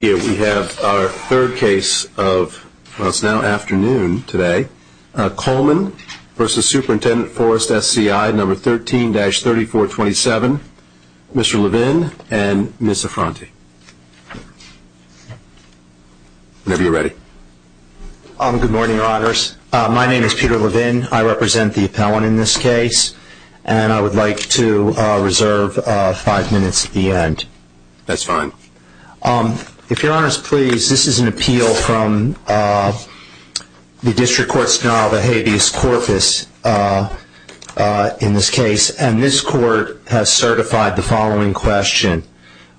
We have our third case of, well it's now afternoon today, Coleman v. Superintendent Forest SCI, number 13-3427, Mr. Levin and Ms. Sofranti. Whenever you're ready. Good morning, Your Honors. My name is Peter Levin. I represent the appellant in this case, and I would like to reserve five minutes at the end. That's fine. If Your Honors, please, this is an appeal from the District Court's denial of a habeas corpus in this case, and this court has certified the following question,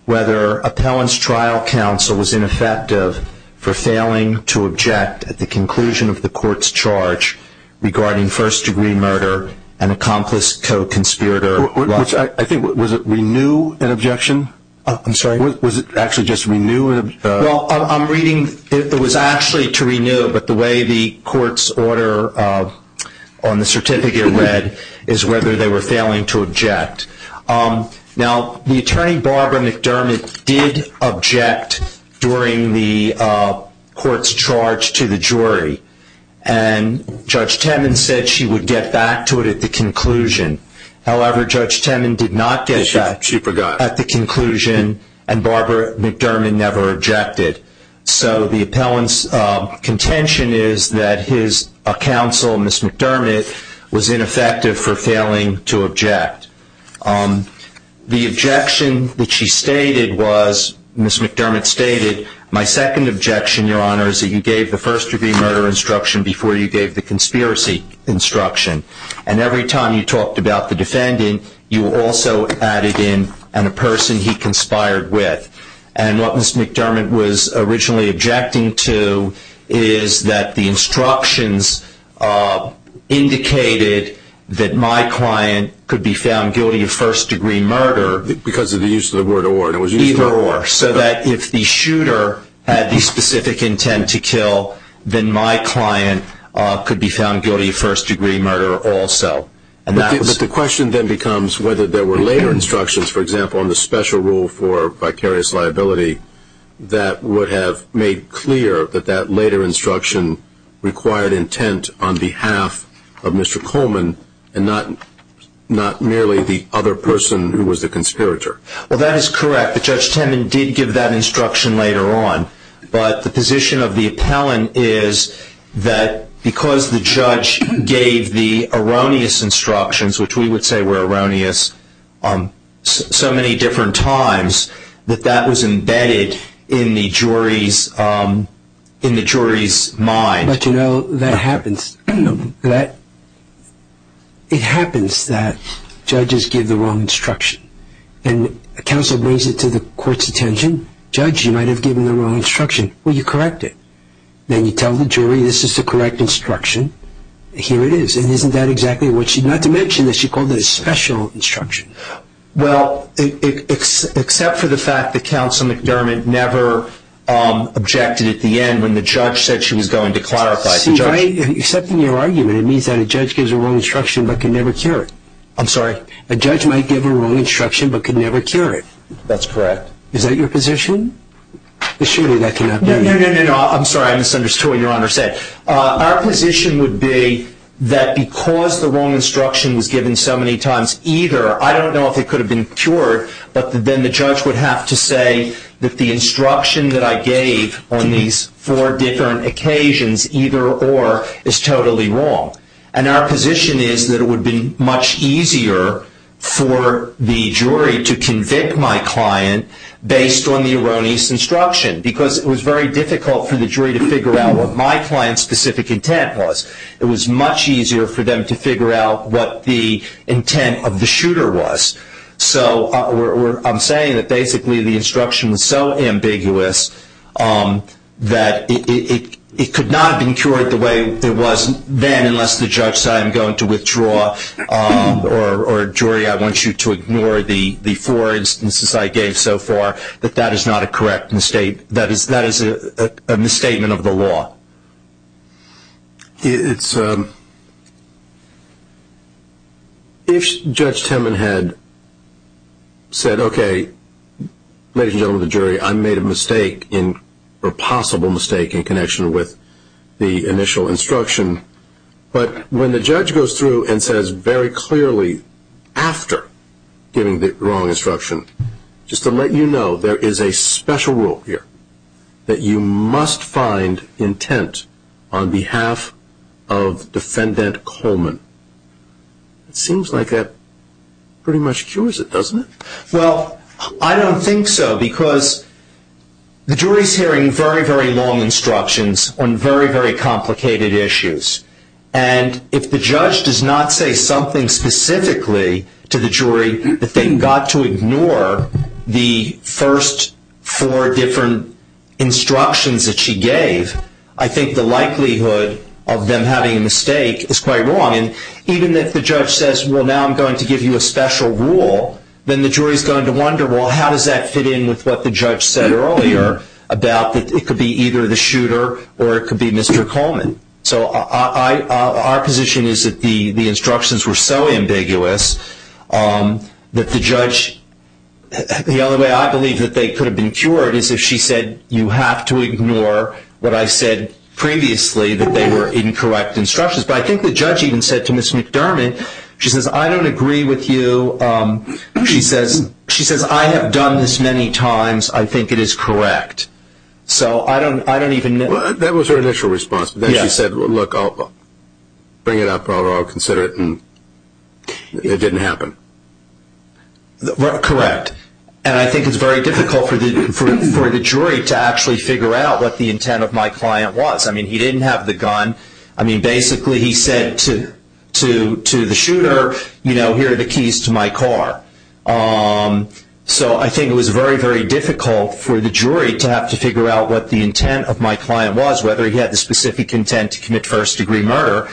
whether appellant's trial counsel was ineffective for failing to object at the conclusion of the court's charge regarding first degree murder and accomplice co-conspirator. I think, was it renew an objection? I'm sorry? Was it actually just renew? Well, I'm reading it was actually to renew, but the way the court's order on the certificate read is whether they were failing to object. Now, the attorney, Barbara McDermott, did object during the court's charge to the jury, and Judge Temin said she would get back to it at the conclusion. However, Judge Temin did not get back at the conclusion, and Barbara McDermott never objected. So the appellant's contention is that his counsel, Ms. McDermott, was ineffective for failing to object. The objection that she stated was, Ms. McDermott stated, my second objection, Your Honors, is that you gave the first degree murder instruction before you gave the conspiracy instruction. And every time you talked about the defendant, you also added in a person he conspired with. And what Ms. McDermott was originally objecting to is that the instructions indicated that my client could be found guilty of first degree murder. Because of the use of the word or. Either or, so that if the shooter had the specific intent to kill, then my client could be found guilty of first degree murder also. But the question then becomes whether there were later instructions, for example, on the special rule for vicarious liability that would have made clear that that later instruction required intent on behalf of Mr. Coleman, and not merely the other person who was the conspirator. Well, that is correct, but Judge Temin did give that instruction later on. But the position of the appellant is that because the judge gave the erroneous instructions, which we would say were erroneous so many different times, that that was embedded in the jury's mind. But you know, that happens. It happens that judges give the wrong instruction. And counsel brings it to the court's attention. Judge, you might have given the wrong instruction. Well, you correct it. Then you tell the jury this is the correct instruction. Here it is. And isn't that exactly what she, not to mention that she called it a special instruction. Well, except for the fact that Counsel McDermott never objected at the end when the judge said she was going to clarify. See, by accepting your argument, it means that a judge gives a wrong instruction but can never cure it. I'm sorry? A judge might give a wrong instruction but can never cure it. That's correct. Is that your position? No, no, no, no. I'm sorry. I misunderstood what Your Honor said. Our position would be that because the wrong instruction was given so many times either, I don't know if it could have been cured, but then the judge would have to say that the instruction that I gave on these four different occasions, either or, is totally wrong. And our position is that it would have been much easier for the jury to convict my client based on the erroneous instruction, because it was very difficult for the jury to figure out what my client's specific intent was. It was much easier for them to figure out what the intent of the shooter was. So I'm saying that basically the instruction was so ambiguous that it could not have been cured the way it was then unless the judge said, I'm going to withdraw, or jury, I want you to ignore the four instances I gave so far, that that is not a correct mistake. That is a misstatement of the law. If Judge Temin had said, okay, ladies and gentlemen of the jury, I made a mistake or a possible mistake in connection with the initial instruction, but when the judge goes through and says very clearly after giving the wrong instruction, just to let you know there is a special rule here, that you must find intent on behalf of Defendant Coleman, it seems like that pretty much cures it, doesn't it? Well, I don't think so, because the jury is hearing very, very long instructions on very, very complicated issues. And if the judge does not say something specifically to the jury, that they got to ignore the first four different instructions that she gave, I think the likelihood of them having a mistake is quite wrong. And even if the judge says, well, now I'm going to give you a special rule, then the jury is going to wonder, well, how does that fit in with what the judge said earlier about that it could be either the shooter or it could be Mr. Coleman. So our position is that the instructions were so ambiguous that the judge, the only way I believe that they could have been cured is if she said, you have to ignore what I said previously, that they were incorrect instructions. But I think the judge even said to Ms. McDermott, she says, I don't agree with you. She says, I have done this many times. I think it is correct. So I don't even know. That was her initial response. She said, look, I'll bring it up, I'll consider it, and it didn't happen. Correct. And I think it's very difficult for the jury to actually figure out what the intent of my client was. I mean, he didn't have the gun. I mean, basically he said to the shooter, you know, here are the keys to my car. So I think it was very, very difficult for the jury to have to figure out what the intent of my client was, whether he had the specific intent to commit first-degree murder.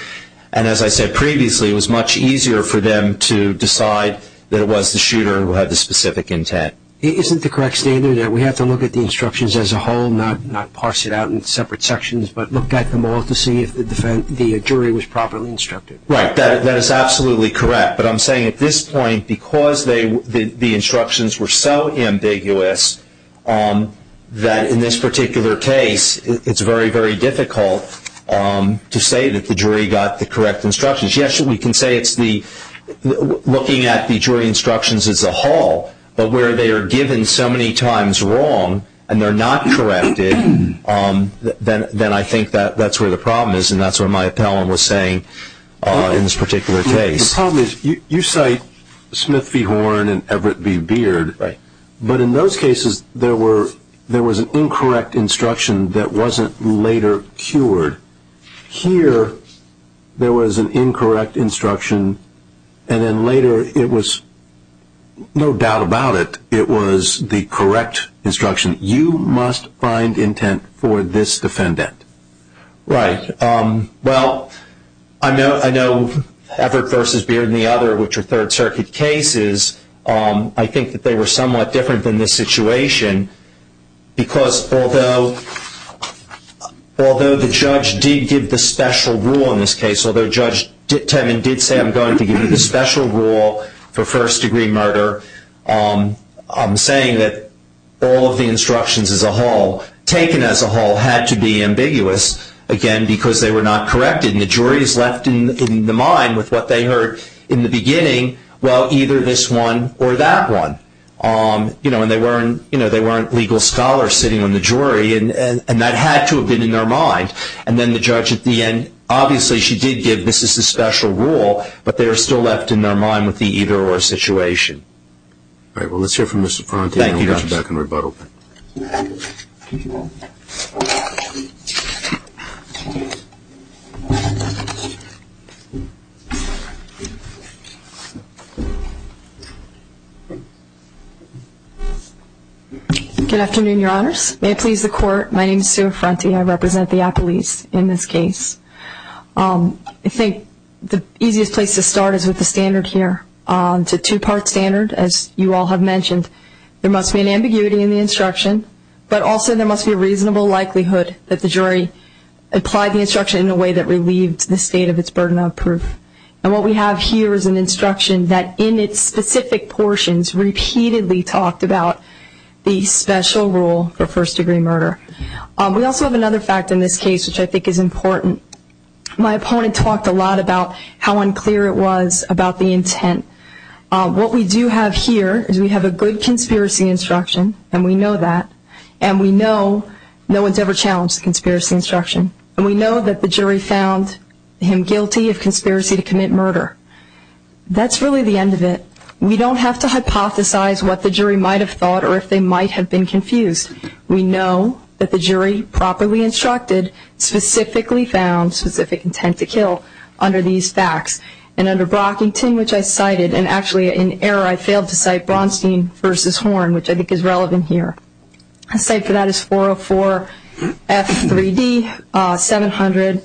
And as I said previously, it was much easier for them to decide that it was the shooter who had the specific intent. Isn't the correct standard that we have to look at the instructions as a whole, not parse it out in separate sections, but look at them all to see if the jury was properly instructed? Right. That is absolutely correct. But I'm saying at this point, because the instructions were so ambiguous, that in this particular case it's very, very difficult to say that the jury got the correct instructions. Yes, we can say it's looking at the jury instructions as a whole, but where they are given so many times wrong and they're not corrected, then I think that's where the problem is, and that's what my appellant was saying in this particular case. Tell me, you cite Smith v. Horn and Everett v. Beard, but in those cases there was an incorrect instruction that wasn't later cured. Here there was an incorrect instruction, and then later it was, no doubt about it, it was the correct instruction, you must find intent for this defendant. Right. Well, I know Everett v. Beard and the other, which are Third Circuit cases, I think that they were somewhat different than this situation, because although the judge did give the special rule in this case, although Judge Temin did say, I'm going to give you the special rule for first-degree murder, I'm saying that all of the instructions as a whole, taken as a whole, had to be ambiguous, again, because they were not corrected, and the jury is left in the mind with what they heard in the beginning, well, either this one or that one, and they weren't legal scholars sitting on the jury, and that had to have been in their mind, and then the judge at the end, obviously she did give this is the special rule, but they are still left in their mind with the either-or situation. All right. Well, let's hear from Ms. Affronti, and we'll get you back in rebuttal. Thank you, Your Honor. Good afternoon, Your Honors. May it please the Court, my name is Sue Affronti, and I represent the appellees in this case. I think the easiest place to start is with the standard here. It's a two-part standard, as you all have mentioned. There must be an ambiguity in the instruction, but also there must be a reasonable likelihood that the jury applied the instruction in a way that relieved the state of its burden of proof, and what we have here is an instruction that in its specific portions repeatedly talked about the special rule for first-degree murder. We also have another fact in this case, which I think is important. My opponent talked a lot about how unclear it was about the intent. What we do have here is we have a good conspiracy instruction, and we know that, and we know no one has ever challenged the conspiracy instruction, and we know that the jury found him guilty of conspiracy to commit murder. That's really the end of it. We don't have to hypothesize what the jury might have thought or if they might have been confused. We know that the jury properly instructed, specifically found, specific intent to kill under these facts. And under Brockington, which I cited, and actually in error, I failed to cite Bronstein v. Horn, which I think is relevant here. The site for that is 404F3D700,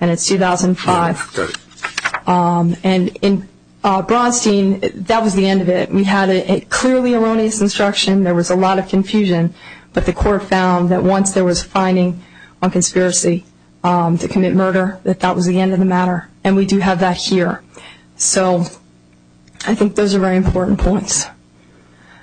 and it's 2005. And in Bronstein, that was the end of it. We had a clearly erroneous instruction. There was a lot of confusion. But the court found that once there was a finding on conspiracy to commit murder, that that was the end of the matter, and we do have that here. So I think those are very important points.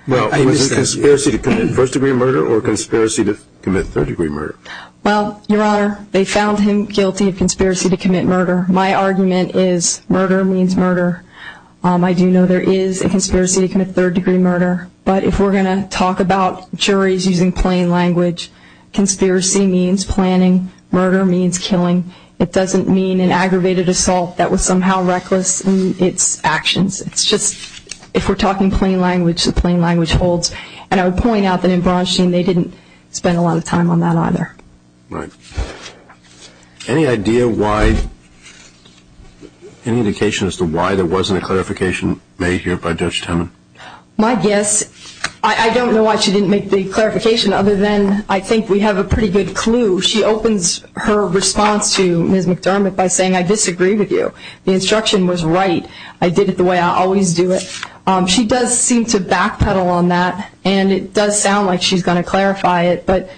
Well, was it conspiracy to commit first-degree murder or conspiracy to commit third-degree murder? Well, Your Honor, they found him guilty of conspiracy to commit murder. My argument is murder means murder. I do know there is a conspiracy to commit third-degree murder. But if we're going to talk about juries using plain language, conspiracy means planning, murder means killing. It doesn't mean an aggravated assault that was somehow reckless in its actions. It's just if we're talking plain language, the plain language holds. And I would point out that in Bronstein, they didn't spend a lot of time on that either. Right. Any idea why, any indication as to why there wasn't a clarification made here by Judge Temin? My guess, I don't know why she didn't make the clarification, other than I think we have a pretty good clue. She opens her response to Ms. McDermott by saying, I disagree with you. The instruction was right. I did it the way I always do it. She does seem to backpedal on that, and it does sound like she's going to clarify it. But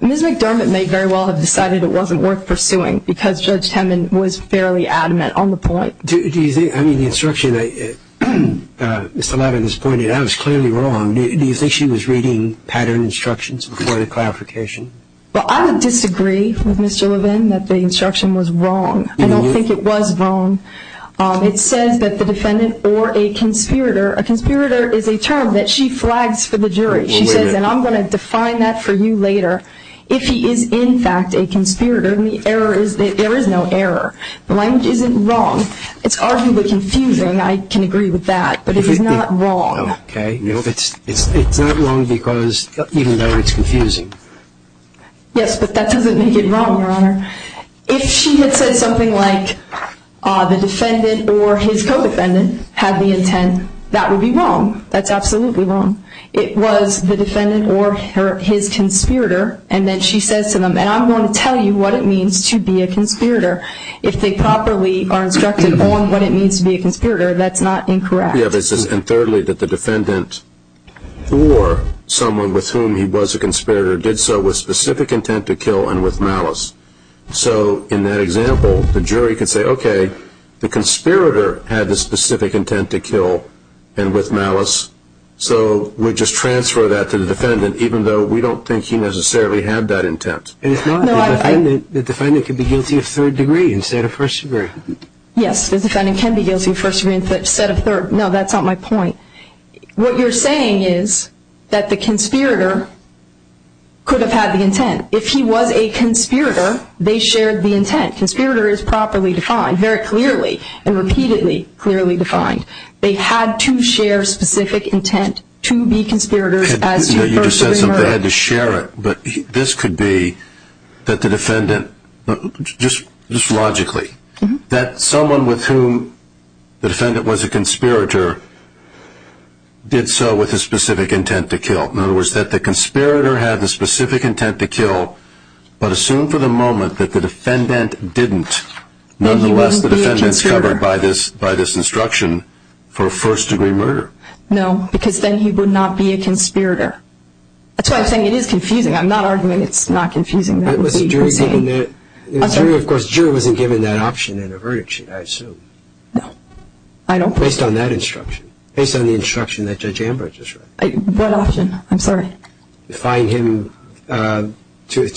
Ms. McDermott may very well have decided it wasn't worth pursuing because Judge Temin was fairly adamant on the point. Do you think, I mean, the instruction that Mr. Levin has pointed out is clearly wrong. Do you think she was reading pattern instructions before the clarification? Well, I would disagree with Ms. Gillivan that the instruction was wrong. I don't think it was wrong. It says that the defendant or a conspirator, a conspirator is a term that she flags for the jury. She says, and I'm going to define that for you later, if he is in fact a conspirator. And the error is that there is no error. The language isn't wrong. It's arguably confusing, I can agree with that, but it is not wrong. Okay. It's not wrong because, even though it's confusing. Yes, but that doesn't make it wrong, Your Honor. If she had said something like the defendant or his co-defendant had the intent, that would be wrong. That's absolutely wrong. And I'm going to tell you what it means to be a conspirator. If they properly are instructed on what it means to be a conspirator, that's not incorrect. And thirdly, that the defendant or someone with whom he was a conspirator did so with specific intent to kill and with malice. So in that example, the jury can say, okay, the conspirator had the specific intent to kill and with malice, so we just transfer that to the defendant even though we don't think he necessarily had that intent. And if not, the defendant could be guilty of third degree instead of first degree. Yes, the defendant can be guilty of first degree instead of third. No, that's not my point. What you're saying is that the conspirator could have had the intent. If he was a conspirator, they shared the intent. Conspirator is properly defined, very clearly and repeatedly clearly defined. They had to share specific intent to be conspirators as to the first degree murder. You just said something, they had to share it, but this could be that the defendant, just logically, that someone with whom the defendant was a conspirator did so with a specific intent to kill. In other words, that the conspirator had the specific intent to kill, but assume for the moment that the defendant didn't. Nonetheless, the defendant is covered by this instruction for a first degree murder. No, because then he would not be a conspirator. That's why I'm saying it is confusing. I'm not arguing it's not confusing. Of course, jury wasn't given that option in a verdict sheet, I assume. No. Based on that instruction, based on the instruction that Judge Ambridge is writing. What option? I'm sorry. Define him to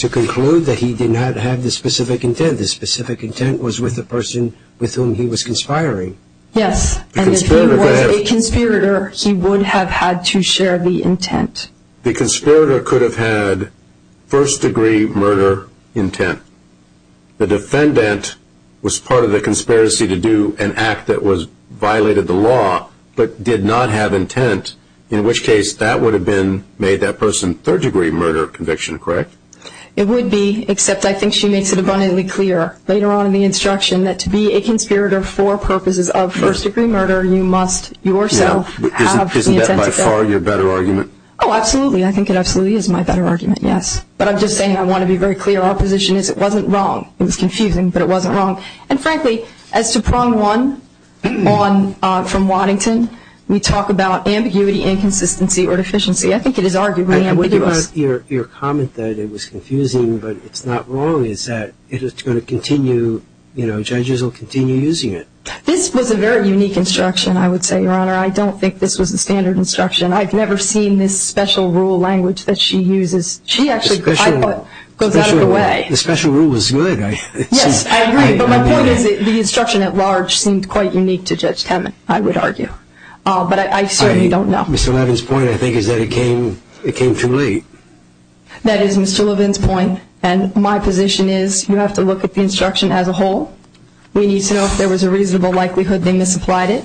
conclude that he did not have the specific intent. The specific intent was with the person with whom he was conspiring. Yes, and if he was a conspirator, he would have had to share the intent. The conspirator could have had first degree murder intent. The defendant was part of the conspiracy to do an act that violated the law, but did not have intent, in which case that would have made that person third degree murder conviction, correct? It would be, except I think she makes it abundantly clear later on in the instruction that to be a conspirator for purposes of first degree murder, you must yourself have the intent. Isn't that by far your better argument? Oh, absolutely. I think it absolutely is my better argument, yes. But I'm just saying I want to be very clear. Our position is it wasn't wrong. It was confusing, but it wasn't wrong. And frankly, as to prong one from Waddington, we talk about ambiguity, inconsistency, or deficiency. I think it is arguably ambiguous. Your comment that it was confusing but it's not wrong is that it is going to continue, you know, judges will continue using it. This was a very unique instruction, I would say, Your Honor. I don't think this was a standard instruction. I've never seen this special rule language that she uses. She actually goes out of the way. The special rule was good. Yes, I agree. But my point is the instruction at large seemed quite unique to Judge Temin, I would argue. But I certainly don't know. Ms. Sullivan's point, I think, is that it came too late. That is Ms. Sullivan's point. And my position is you have to look at the instruction as a whole. We need to know if there was a reasonable likelihood they misapplied it.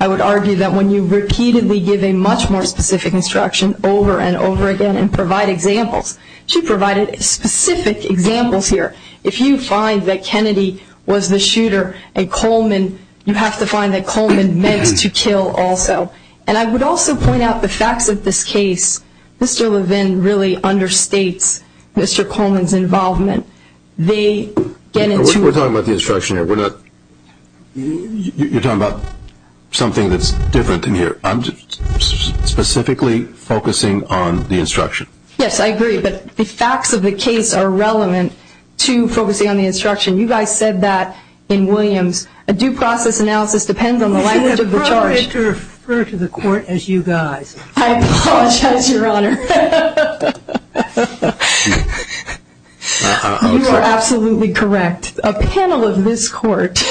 I would argue that when you repeatedly give a much more specific instruction over and over again and provide examples, she provided specific examples here. If you find that Kennedy was the shooter and Coleman, you have to find that Coleman meant to kill also. And I would also point out the facts of this case. Mr. Levin really understates Mr. Coleman's involvement. We're talking about the instruction here. You're talking about something that's different in here. I'm specifically focusing on the instruction. Yes, I agree. But the facts of the case are relevant to focusing on the instruction. You guys said that in Williams, a due process analysis depends on the language of the charge. You should probably refer to the court as you guys. I apologize, Your Honor. You are absolutely correct. A panel of this court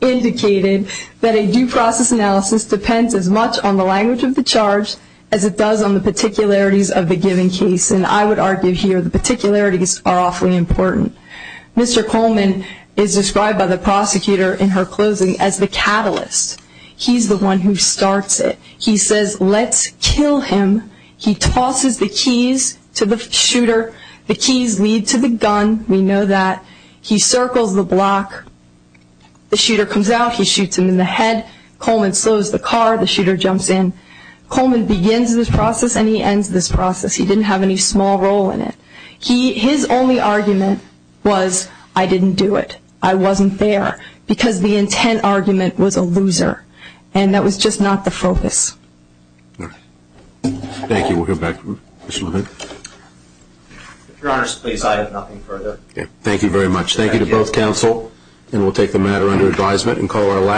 indicated that a due process analysis depends as much on the language of the charge as it does on the particularities of the given case. And I would argue here the particularities are awfully important. Mr. Coleman is described by the prosecutor in her closing as the catalyst. He's the one who starts it. He says, let's kill him. He tosses the keys to the shooter. The keys lead to the gun. We know that. He circles the block. The shooter comes out. He shoots him in the head. Coleman slows the car. The shooter jumps in. Coleman begins this process and he ends this process. He didn't have any small role in it. His only argument was, I didn't do it. I wasn't there. Because the intent argument was a loser. And that was just not the focus. Thank you. We'll go back to Mr. Levin. Your Honor, please, I have nothing further. Thank you very much. Thank you to both counsel. And we'll take the matter under advisement and call our last.